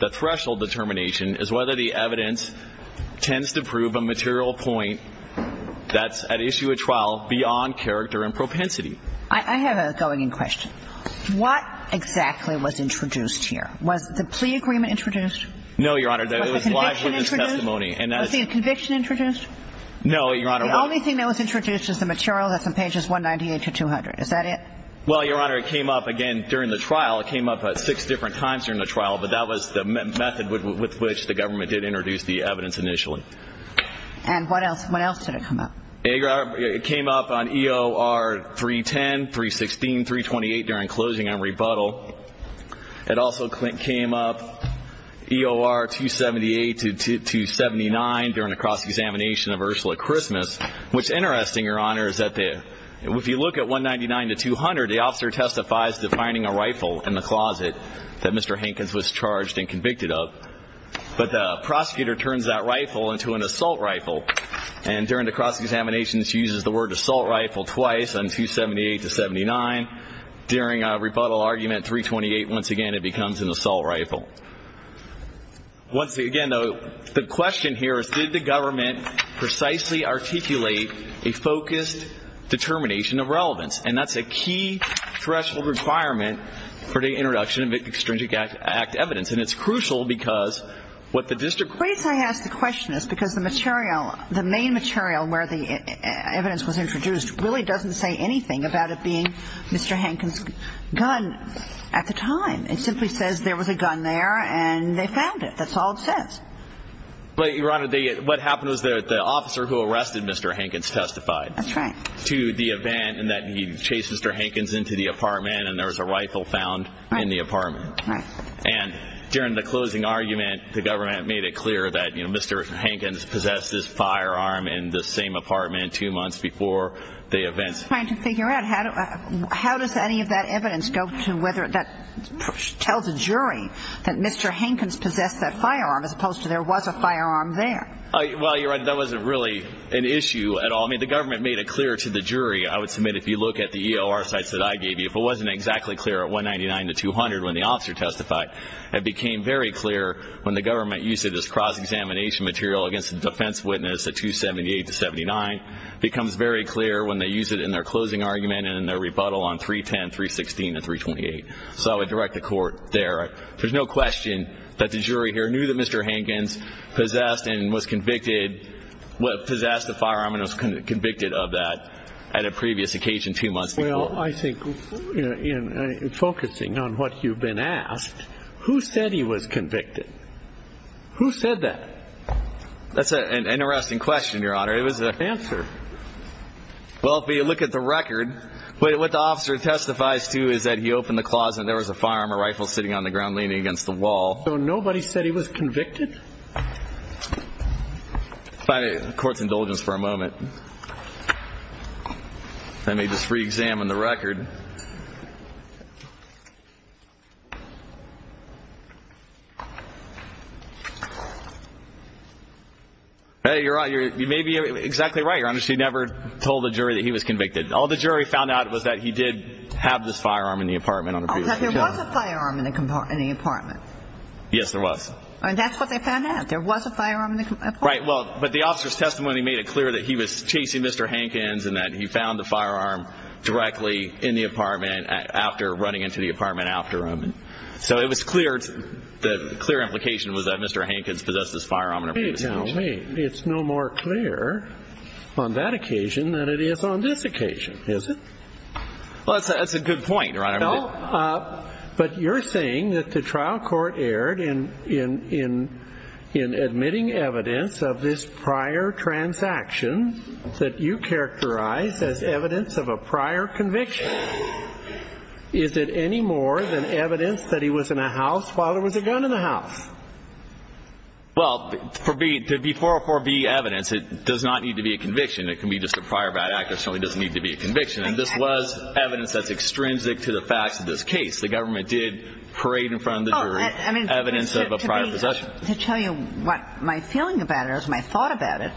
The threshold determination is whether the evidence tends to prove a material point that's at issue of trial beyond character and propensity. I have a going in question. What exactly was introduced here? Was the plea agreement introduced? No, Your Honor, it was live witness testimony. Was the conviction introduced? No, Your Honor. The only thing that was introduced was the material that's on pages 198 to 200. Is that it? Well, Your Honor, it came up again during the trial. It came up at six different times during the trial. But that was the method with which the government did introduce the evidence initially. And what else? What else did it come up? It came up on EOR 310, 316, 328 during closing and rebuttal. It also came up EOR 278 to 279 during a cross-examination of Ursula Christmas. What's interesting, Your Honor, is that if you look at 199 to 200, the officer testifies to finding a rifle in the closet that Mr. Hankins was charged and convicted of. But the prosecutor turns that rifle into an assault rifle. And during the cross-examination, she uses the word assault rifle twice on 278 to 79. During a rebuttal argument 328, once again, it becomes an assault rifle. Once again, though, the question here is did the government precisely articulate a focused determination of relevance? And that's a key threshold requirement for the introduction of Extrinsic Act evidence. And it's crucial because what the district court ---- The reason I ask the question is because the material, the main material where the evidence was introduced, really doesn't say anything about it being Mr. Hankins' gun at the time. It simply says there was a gun there and they found it. That's all it says. But, Your Honor, what happened was the officer who arrested Mr. Hankins testified. That's right. To the event that he chased Mr. Hankins into the apartment and there was a rifle found in the apartment. Right. And during the closing argument, the government made it clear that Mr. Hankins possessed his firearm in the same apartment two months before the event. I'm just trying to figure out how does any of that evidence go to whether that tells a jury that Mr. Hankins possessed that firearm as opposed to there was a firearm there? Well, Your Honor, that wasn't really an issue at all. I mean, the government made it clear to the jury. I would submit if you look at the EOR sites that I gave you, if it wasn't exactly clear at 199 to 200 when the officer testified, it became very clear when the government used it as cross-examination material against the defense witness at 278 to 79. It becomes very clear when they use it in their closing argument and in their rebuttal on 310, 316, and 328. So I would direct the court there. There's no question that the jury here knew that Mr. Hankins possessed and was convicted, possessed the firearm and was convicted of that at a previous occasion two months before. Well, I think focusing on what you've been asked, who said he was convicted? Who said that? That's an interesting question, Your Honor. It was an answer. Well, if you look at the record, what the officer testifies to is that he opened the closet and there was a firearm or rifle sitting on the ground leaning against the wall. So nobody said he was convicted? Court's indulgence for a moment. Let me just reexamine the record. You may be exactly right, Your Honor. She never told the jury that he was convicted. All the jury found out was that he did have this firearm in the apartment. There was a firearm in the apartment? Yes, there was. And that's what they found out, there was a firearm in the apartment? Right. Well, but the officer's testimony made it clear that he was chasing Mr. Hankins and that he found the firearm directly in the apartment after running into the apartment after him. So it was clear, the clear implication was that Mr. Hankins possessed this firearm in a previous occasion. Now wait, it's no more clear on that occasion than it is on this occasion, is it? Well, that's a good point, Your Honor. But you're saying that the trial court erred in admitting evidence of this prior transaction that you characterize as evidence of a prior conviction. Is it any more than evidence that he was in a house while there was a gun in the house? Well, to be 404B evidence, it does not need to be a conviction. It can be just a prior bad act. It certainly doesn't need to be a conviction. And this was evidence that's extrinsic to the facts of this case. The government did parade in front of the jury evidence of a prior possession. To tell you what my feeling about it or my thought about it,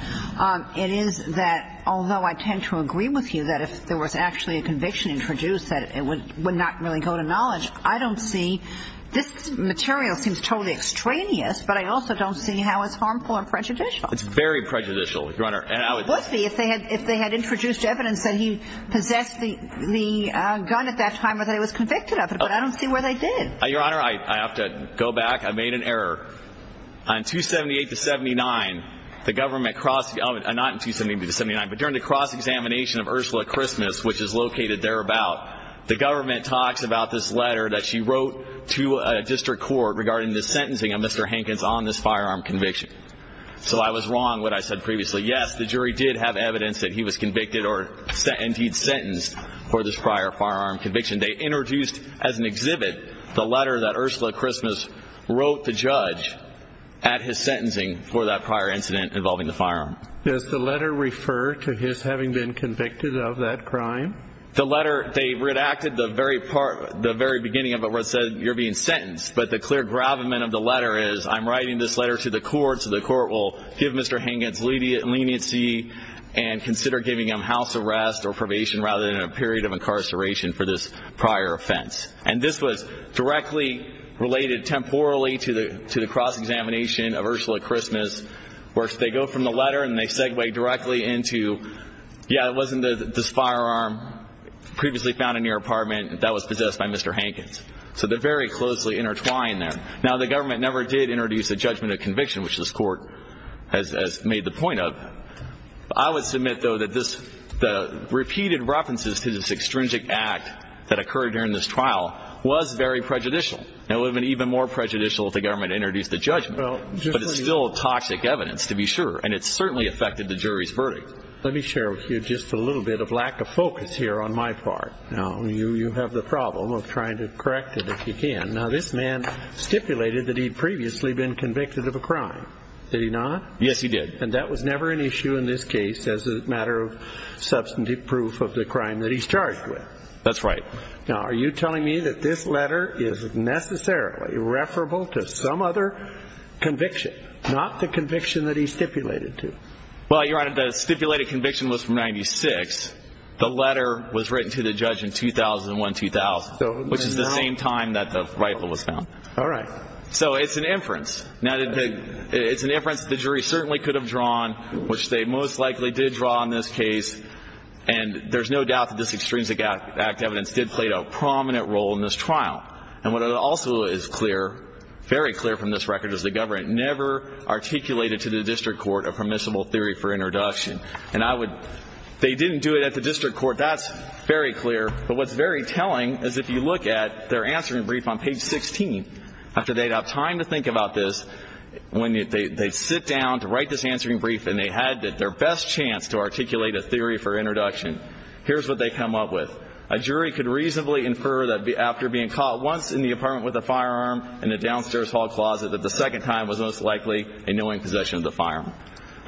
it is that although I tend to agree with you that if there was actually a conviction introduced that it would not really go to knowledge, I don't see this material seems totally extraneous, but I also don't see how it's harmful or prejudicial. It's very prejudicial, Your Honor. It would be if they had introduced evidence that he possessed the gun at that time or that he was convicted of it, but I don't see where they did. Your Honor, I have to go back. I made an error. On 278-79, the government crossed the element, not 278-79, but during the cross-examination of Ursula Christmas, which is located thereabout, the government talks about this letter that she wrote to a district court regarding the sentencing of Mr. Hankins on this firearm conviction. So I was wrong what I said previously. Yes, the jury did have evidence that he was convicted or indeed sentenced for this prior firearm conviction. They introduced as an exhibit the letter that Ursula Christmas wrote the judge at his sentencing for that prior incident involving the firearm. Does the letter refer to his having been convicted of that crime? The letter, they redacted the very beginning of it where it said you're being sentenced, but the clear gravamen of the letter is I'm writing this letter to the court so the court will give Mr. Hankins leniency and consider giving him house arrest or probation rather than a period of incarceration for this prior offense. And this was directly related temporally to the cross-examination of Ursula Christmas, where they go from the letter and they segue directly into, yeah, it wasn't this firearm previously found in your apartment, that was possessed by Mr. Hankins. So they're very closely intertwined there. Now, the government never did introduce a judgment of conviction, which this court has made the point of. I would submit, though, that the repeated references to this extrinsic act that occurred during this trial was very prejudicial. It would have been even more prejudicial if the government had introduced the judgment. But it's still toxic evidence, to be sure, and it certainly affected the jury's verdict. Let me share with you just a little bit of lack of focus here on my part. Now, you have the problem of trying to correct it if you can. Now, this man stipulated that he'd previously been convicted of a crime. Did he not? Yes, he did. And that was never an issue in this case as a matter of substantive proof of the crime that he's charged with? That's right. Now, are you telling me that this letter is necessarily referable to some other conviction, not the conviction that he stipulated to? Well, Your Honor, the stipulated conviction was from 96. The letter was written to the judge in 2001-2000, which is the same time that the rifle was found. All right. So it's an inference. Now, it's an inference the jury certainly could have drawn, which they most likely did draw in this case, and there's no doubt that this extrinsic act evidence did play a prominent role in this trial. And what also is clear, very clear from this record, is the government never articulated to the district court a permissible theory for introduction. They didn't do it at the district court. That's very clear. But what's very telling is if you look at their answering brief on page 16, after they'd had time to think about this, when they sit down to write this answering brief and they had their best chance to articulate a theory for introduction, here's what they come up with. A jury could reasonably infer that after being caught once in the apartment with a firearm in a downstairs hall closet that the second time was most likely a knowing possession of the firearm.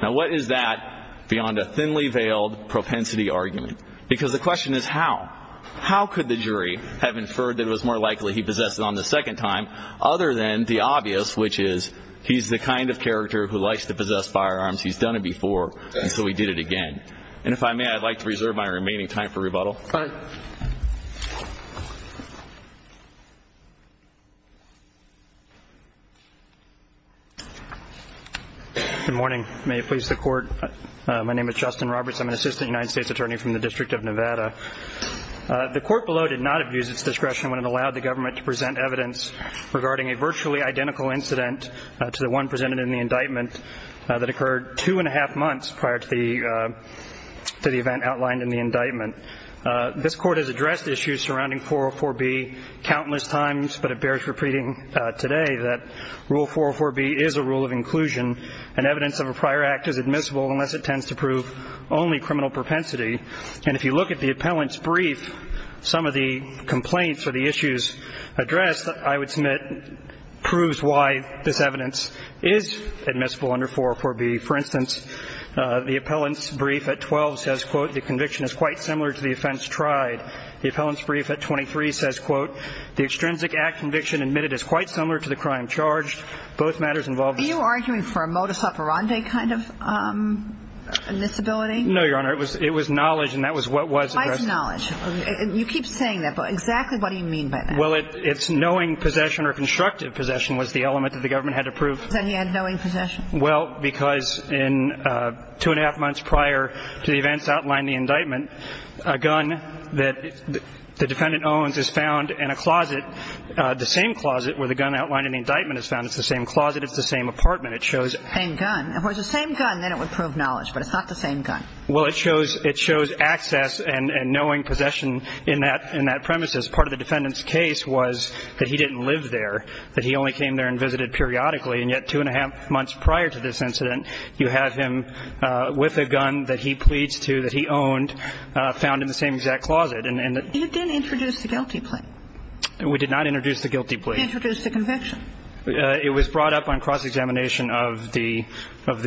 Now, what is that beyond a thinly veiled propensity argument? Because the question is how. How could the jury have inferred that it was more likely he possessed it on the second time, other than the obvious, which is he's the kind of character who likes to possess firearms, he's done it before, and so he did it again. And if I may, I'd like to reserve my remaining time for rebuttal. Go ahead. Good morning. May it please the Court. My name is Justin Roberts. I'm an assistant United States attorney from the District of Nevada. The court below did not abuse its discretion when it allowed the government to present evidence regarding a virtually identical incident to the one presented in the indictment that occurred two and a half months prior to the event outlined in the indictment. This Court has addressed issues surrounding 404B countless times, but it bears repeating today that Rule 404B is a rule of inclusion, and evidence of a prior act is admissible unless it tends to prove only criminal propensity. And if you look at the appellant's brief, some of the complaints or the issues addressed, I would submit proves why this evidence is admissible under 404B. For instance, the appellant's brief at 12 says, quote, the conviction is quite similar to the offense tried. The appellant's brief at 23 says, quote, the extrinsic act conviction admitted is quite similar to the crime charged. Both matters involve the same. Are you arguing for a modus operandi kind of disability? No, Your Honor. It was knowledge, and that was what was addressed. Why is it knowledge? You keep saying that, but exactly what do you mean by that? Well, it's knowing possession or constructive possession was the element that the government had to prove. Then he had knowing possession. Well, because in two and a half months prior to the events outlined in the indictment, a gun that the defendant owns is found in a closet, the same closet where the gun outlined in the indictment is found. It's the same closet. It's the same apartment. It shows the same gun. If it was the same gun, then it would prove knowledge, but it's not the same gun. Well, it shows access and knowing possession in that premise. As part of the defendant's case was that he didn't live there, that he only came there and visited periodically. And yet two and a half months prior to this incident, you have him with a gun that he pleads to, that he owned, found in the same exact closet. You didn't introduce the guilty plea. We did not introduce the guilty plea. You introduced the conviction. It was brought up on cross-examination of the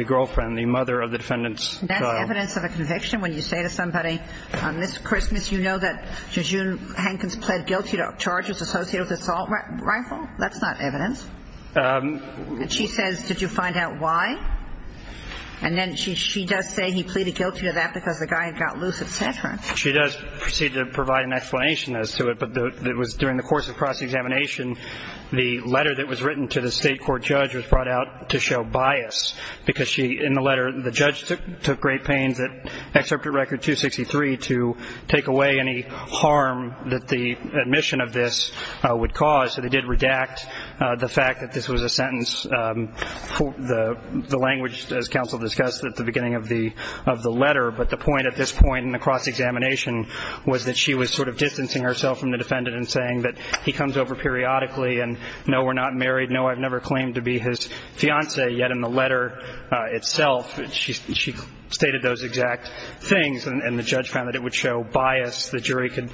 girlfriend, the mother of the defendant's daughter. That's evidence of a conviction? When you say to somebody on this Christmas, you know that June Hankins pled guilty to charges associated with assault rifle? That's not evidence. And she says, did you find out why? And then she does say he pleaded guilty to that because the guy had got loose, et cetera. She does proceed to provide an explanation as to it, but it was during the course of cross-examination, the letter that was written to the state court judge was brought out to show bias, because she, in the letter, the judge took great pains, excerpted Record 263 to take away any harm that the admission of this would cause. So they did redact the fact that this was a sentence. The language, as counsel discussed at the beginning of the letter, but the point at this point in the cross-examination was that she was sort of distancing herself from the defendant and saying that he comes over periodically and, no, we're not married, no, I've never claimed to be his fiancée. Yet in the letter itself, she stated those exact things, and the judge found that it would show bias. The jury could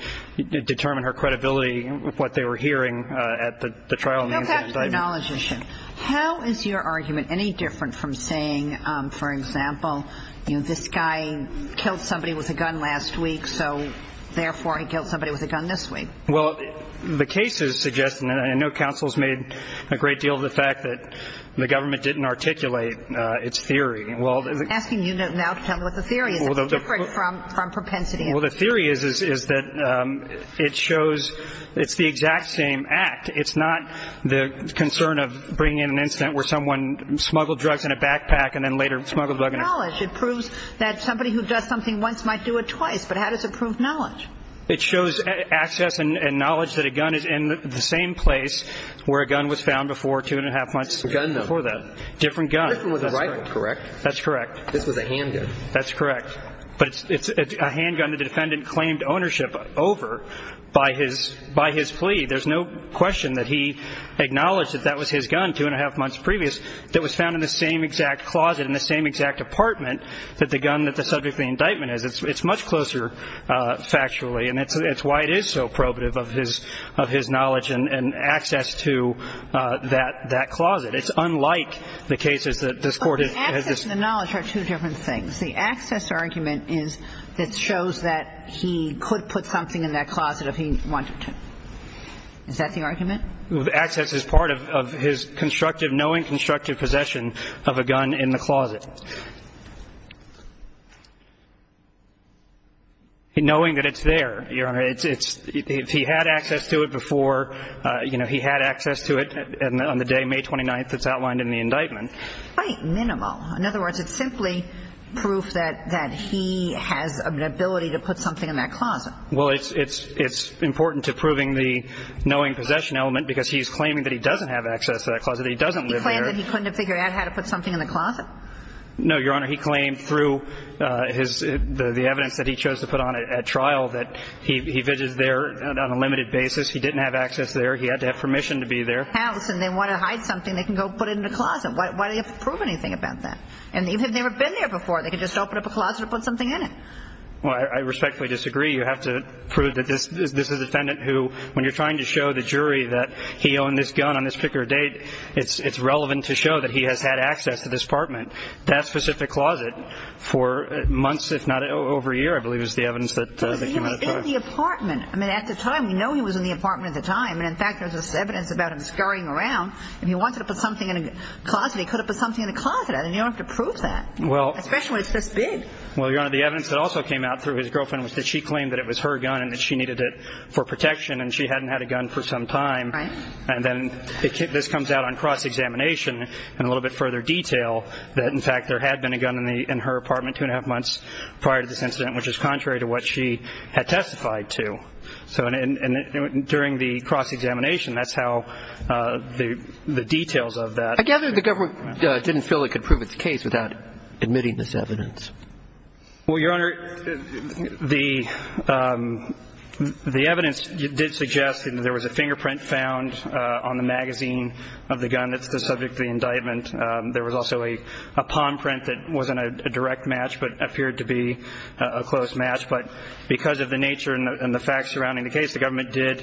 determine her credibility, what they were hearing at the trial. I have to acknowledge this. How is your argument any different from saying, for example, this guy killed somebody with a gun last week, so therefore he killed somebody with a gun this week? Well, the case is suggesting, and I know counsel has made a great deal of the fact that the government didn't articulate its theory. I'm asking you now to tell me what the theory is. It's different from propensity. Well, the theory is that it shows it's the exact same act. It's not the concern of bringing in an incident where someone smuggled drugs in a backpack and then later smuggled the drug in a car. It proves that somebody who does something once might do it twice, but how does it prove knowledge? It shows access and knowledge that a gun is in the same place where a gun was found before two and a half months before that. A gun, though. A different gun. Different with a rifle, correct? That's correct. This was a handgun. That's correct. But it's a handgun the defendant claimed ownership over by his plea. There's no question that he acknowledged that that was his gun two and a half months previous that was found in the same exact closet in the same exact apartment that the gun that the subject of the indictment is. It's much closer factually, and it's why it is so probative of his knowledge and access to that closet. It's unlike the cases that this Court has discussed. The access and the knowledge are two different things. The access argument is that shows that he could put something in that closet if he wanted to. Is that the argument? Access is part of his constructive, knowing constructive possession of a gun in the closet. Knowing that it's there, Your Honor. If he had access to it before, you know, he had access to it on the day, May 29th, that's outlined in the indictment. It's quite minimal. In other words, it's simply proof that he has an ability to put something in that closet. Well, it's important to proving the knowing possession element because he's claiming that he doesn't have access to that closet. He doesn't live there. He claimed that he couldn't have figured out how to put something in the closet. No, Your Honor. He claimed through the evidence that he chose to put on at trial that he visits there on a limited basis. He didn't have access there. He had to have permission to be there. If they have a house and they want to hide something, they can go put it in the closet. Why do you have to prove anything about that? And they've never been there before. They can just open up a closet and put something in it. Well, I respectfully disagree. You have to prove that this is a defendant who, when you're trying to show the jury that he owned this gun on this particular date, it's relevant to show that he has had access to this apartment, that specific closet, for months if not over a year, I believe is the evidence. He was in the apartment. I mean, at the time, we know he was in the apartment at the time. And, in fact, there's this evidence about him scurrying around. If he wanted to put something in a closet, he could have put something in a closet. And you don't have to prove that, especially when it's this big. Well, Your Honor, the evidence that also came out through his girlfriend was that she claimed that it was her gun and that she needed it for protection and she hadn't had a gun for some time. Right. And then this comes out on cross-examination in a little bit further detail that, in fact, there had been a gun in her apartment two and a half months prior to this incident, which is contrary to what she had testified to. So during the cross-examination, that's how the details of that. I gather the government didn't feel it could prove its case without admitting this evidence. Well, Your Honor, the evidence did suggest that there was a fingerprint found on the magazine of the gun that's the subject of the indictment. There was also a palm print that wasn't a direct match but appeared to be a close match. But because of the nature and the facts surrounding the case, the government did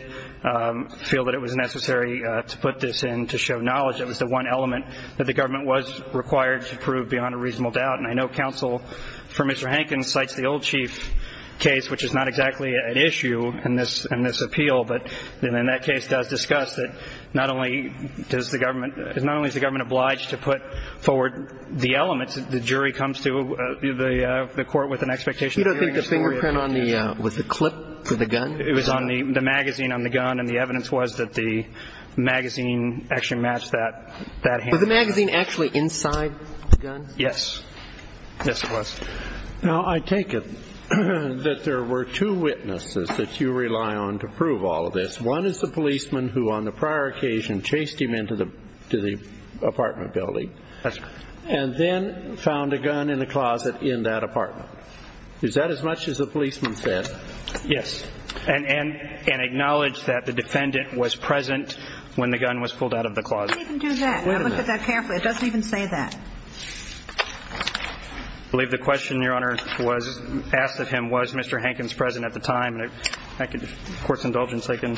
feel that it was necessary to put this in to show knowledge. It was the one element that the government was required to prove beyond a reasonable doubt. And I know counsel for Mr. Hankins cites the old chief case, which is not exactly at issue in this appeal, but in that case does discuss that not only is the government obliged to put forward the elements, but also to put forward the evidence that the jury comes to the court with an expectation of hearing a story of the case. You don't think the fingerprint on the – was the clip to the gun? It was on the magazine on the gun, and the evidence was that the magazine actually matched that hand. Was the magazine actually inside the gun? Yes. Yes, it was. Now, I take it that there were two witnesses that you rely on to prove all of this. One is the policeman who on the prior occasion chased him into the apartment building. Yes, sir. And then found a gun in the closet in that apartment. Is that as much as the policeman said? Yes. And acknowledged that the defendant was present when the gun was pulled out of the closet. It didn't even do that. Wait a minute. I looked at that carefully. It doesn't even say that. I believe the question, Your Honor, was asked of him, was Mr. Hankins present at the time? And if I could get the court's indulgence, I can.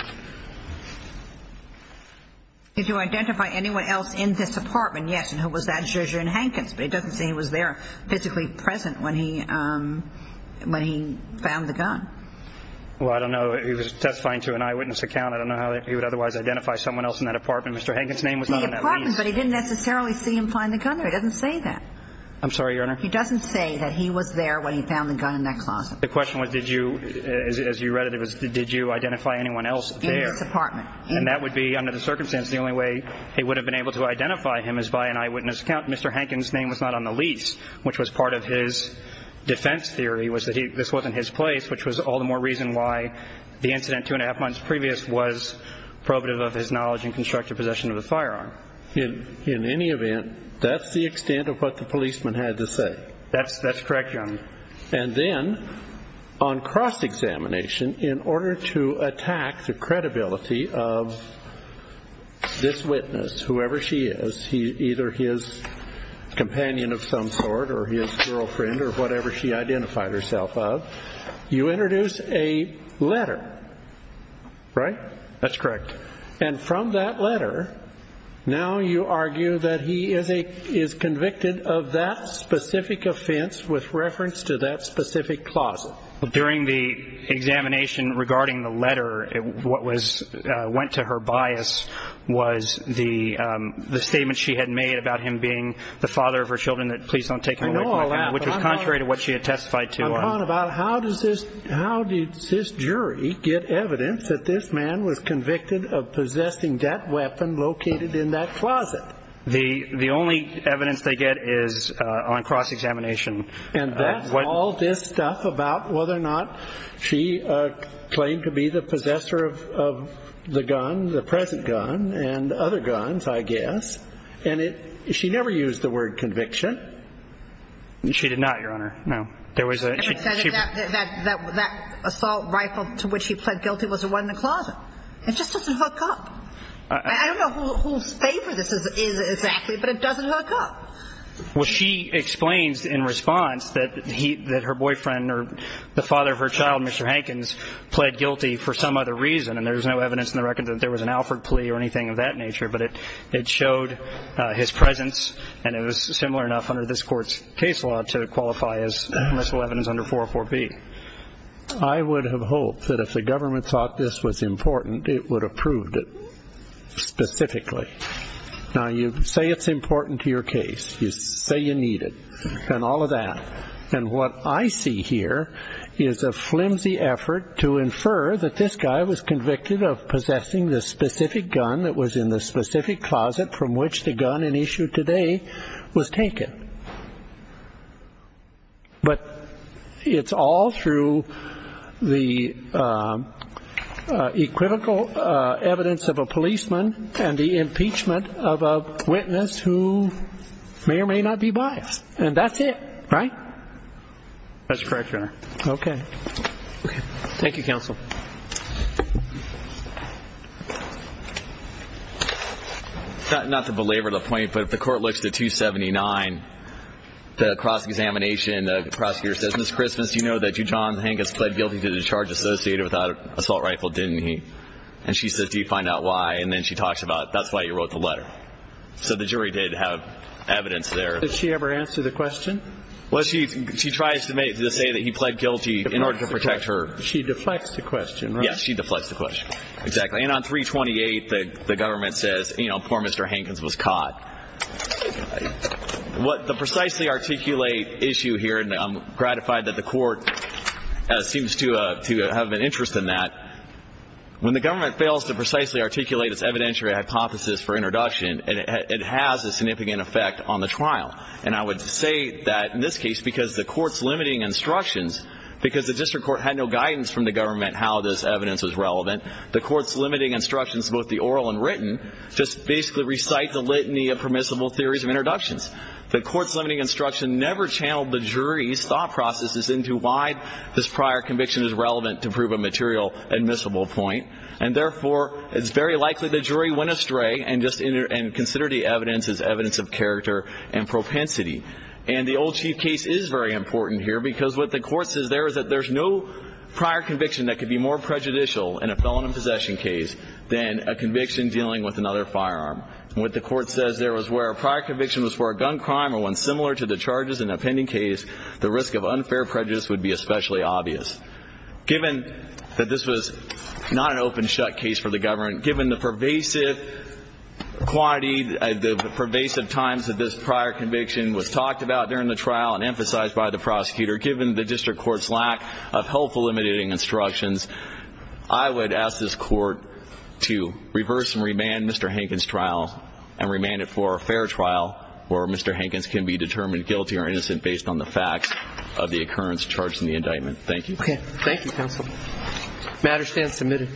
Did you identify anyone else in this apartment? Yes. And who was that? Jezrin Hankins. But it doesn't say he was there physically present when he found the gun. Well, I don't know. He was testifying to an eyewitness account. I don't know how he would otherwise identify someone else in that apartment. Mr. Hankins' name was not in that release. But he didn't necessarily see him find the gun, or he doesn't say that. I'm sorry, Your Honor? He doesn't say that he was there when he found the gun in that closet. The question was, did you, as you read it, did you identify anyone else there? In this apartment. And that would be, under the circumstance, the only way he would have been able to identify him is by an eyewitness account. Mr. Hankins' name was not on the lease, which was part of his defense theory, was that this wasn't his place, which was all the more reason why the incident two and a half months previous was probative of his knowledge and constructive possession of the firearm. In any event, that's the extent of what the policeman had to say. That's correct, Your Honor. And then, on cross-examination, in order to attack the credibility of this witness, whoever she is, either his companion of some sort or his girlfriend or whatever she identified herself of, you introduce a letter, right? That's correct. And from that letter, now you argue that he is convicted of that specific offense with reference to that specific closet. During the examination regarding the letter, what went to her bias was the statement she had made about him being the father of her children, which was contrary to what she had testified to. I'm talking about how does this jury get evidence that this man was convicted of possessing that weapon located in that closet? The only evidence they get is on cross-examination. And that's all this stuff about whether or not she claimed to be the possessor of the gun, the present gun, and other guns, I guess. And she never used the word conviction. She did not, Your Honor, no. That assault rifle to which he pled guilty was the one in the closet. It just doesn't hook up. I don't know whose favor this is exactly, but it doesn't hook up. Well, she explains in response that her boyfriend or the father of her child, Mr. Hankins, pled guilty for some other reason, and there's no evidence in the record that there was an Alford plea or anything of that nature, but it showed his presence, and it was similar enough under this Court's case law to qualify as permissible evidence under 404B. I would have hoped that if the government thought this was important, it would have proved it specifically. Now, you say it's important to your case. You say you need it and all of that. And what I see here is a flimsy effort to infer that this guy was convicted of possessing the specific gun that was in the specific closet from which the gun in issue today was taken. But it's all through the equivocal evidence of a policeman and the impeachment of a witness who may or may not be biased, and that's it, right? That's correct, Your Honor. Okay. Thank you, Counsel. Not to belabor the point, but if the Court looks to 279, the cross-examination, the prosecutor says, Ms. Christmas, you know that you, John Hankins, pled guilty to the charge associated with that assault rifle, didn't he? And she says, do you find out why? And then she talks about that's why you wrote the letter. So the jury did have evidence there. Did she ever answer the question? Well, she tries to say that he pled guilty in order to protect her. She deflects the question, right? Yes, she deflects the question, exactly. And on 328, the government says, you know, poor Mr. Hankins was caught. The precisely articulate issue here, and I'm gratified that the Court seems to have an interest in that, when the government fails to precisely articulate its evidentiary hypothesis for introduction, it has a significant effect on the trial. And I would say that in this case, because the Court's limiting instructions, because the district court had no guidance from the government how this evidence was relevant, the Court's limiting instructions, both the oral and written, just basically recite the litany of permissible theories of introductions. The Court's limiting instruction never channeled the jury's thought processes into why this prior conviction is relevant to prove a material admissible point. And therefore, it's very likely the jury went astray and considered the evidence as evidence of character and propensity. And the old chief case is very important here because what the Court says there is that there's no prior conviction that could be more prejudicial in a felon in possession case than a conviction dealing with another firearm. And what the Court says there was where a prior conviction was for a gun crime or one similar to the charges in a pending case, the risk of unfair prejudice would be especially obvious. Given that this was not an open-shut case for the government, given the pervasive quantity, the pervasive times that this prior conviction was talked about during the trial and emphasized by the prosecutor, given the district court's lack of helpful limiting instructions, I would ask this Court to reverse and remand Mr. Hankins' trial and remand it for a fair trial where Mr. Hankins can be determined guilty or innocent based on the facts of the occurrence charged in the indictment. Thank you. Okay. Thank you, counsel. Matter stands submitted.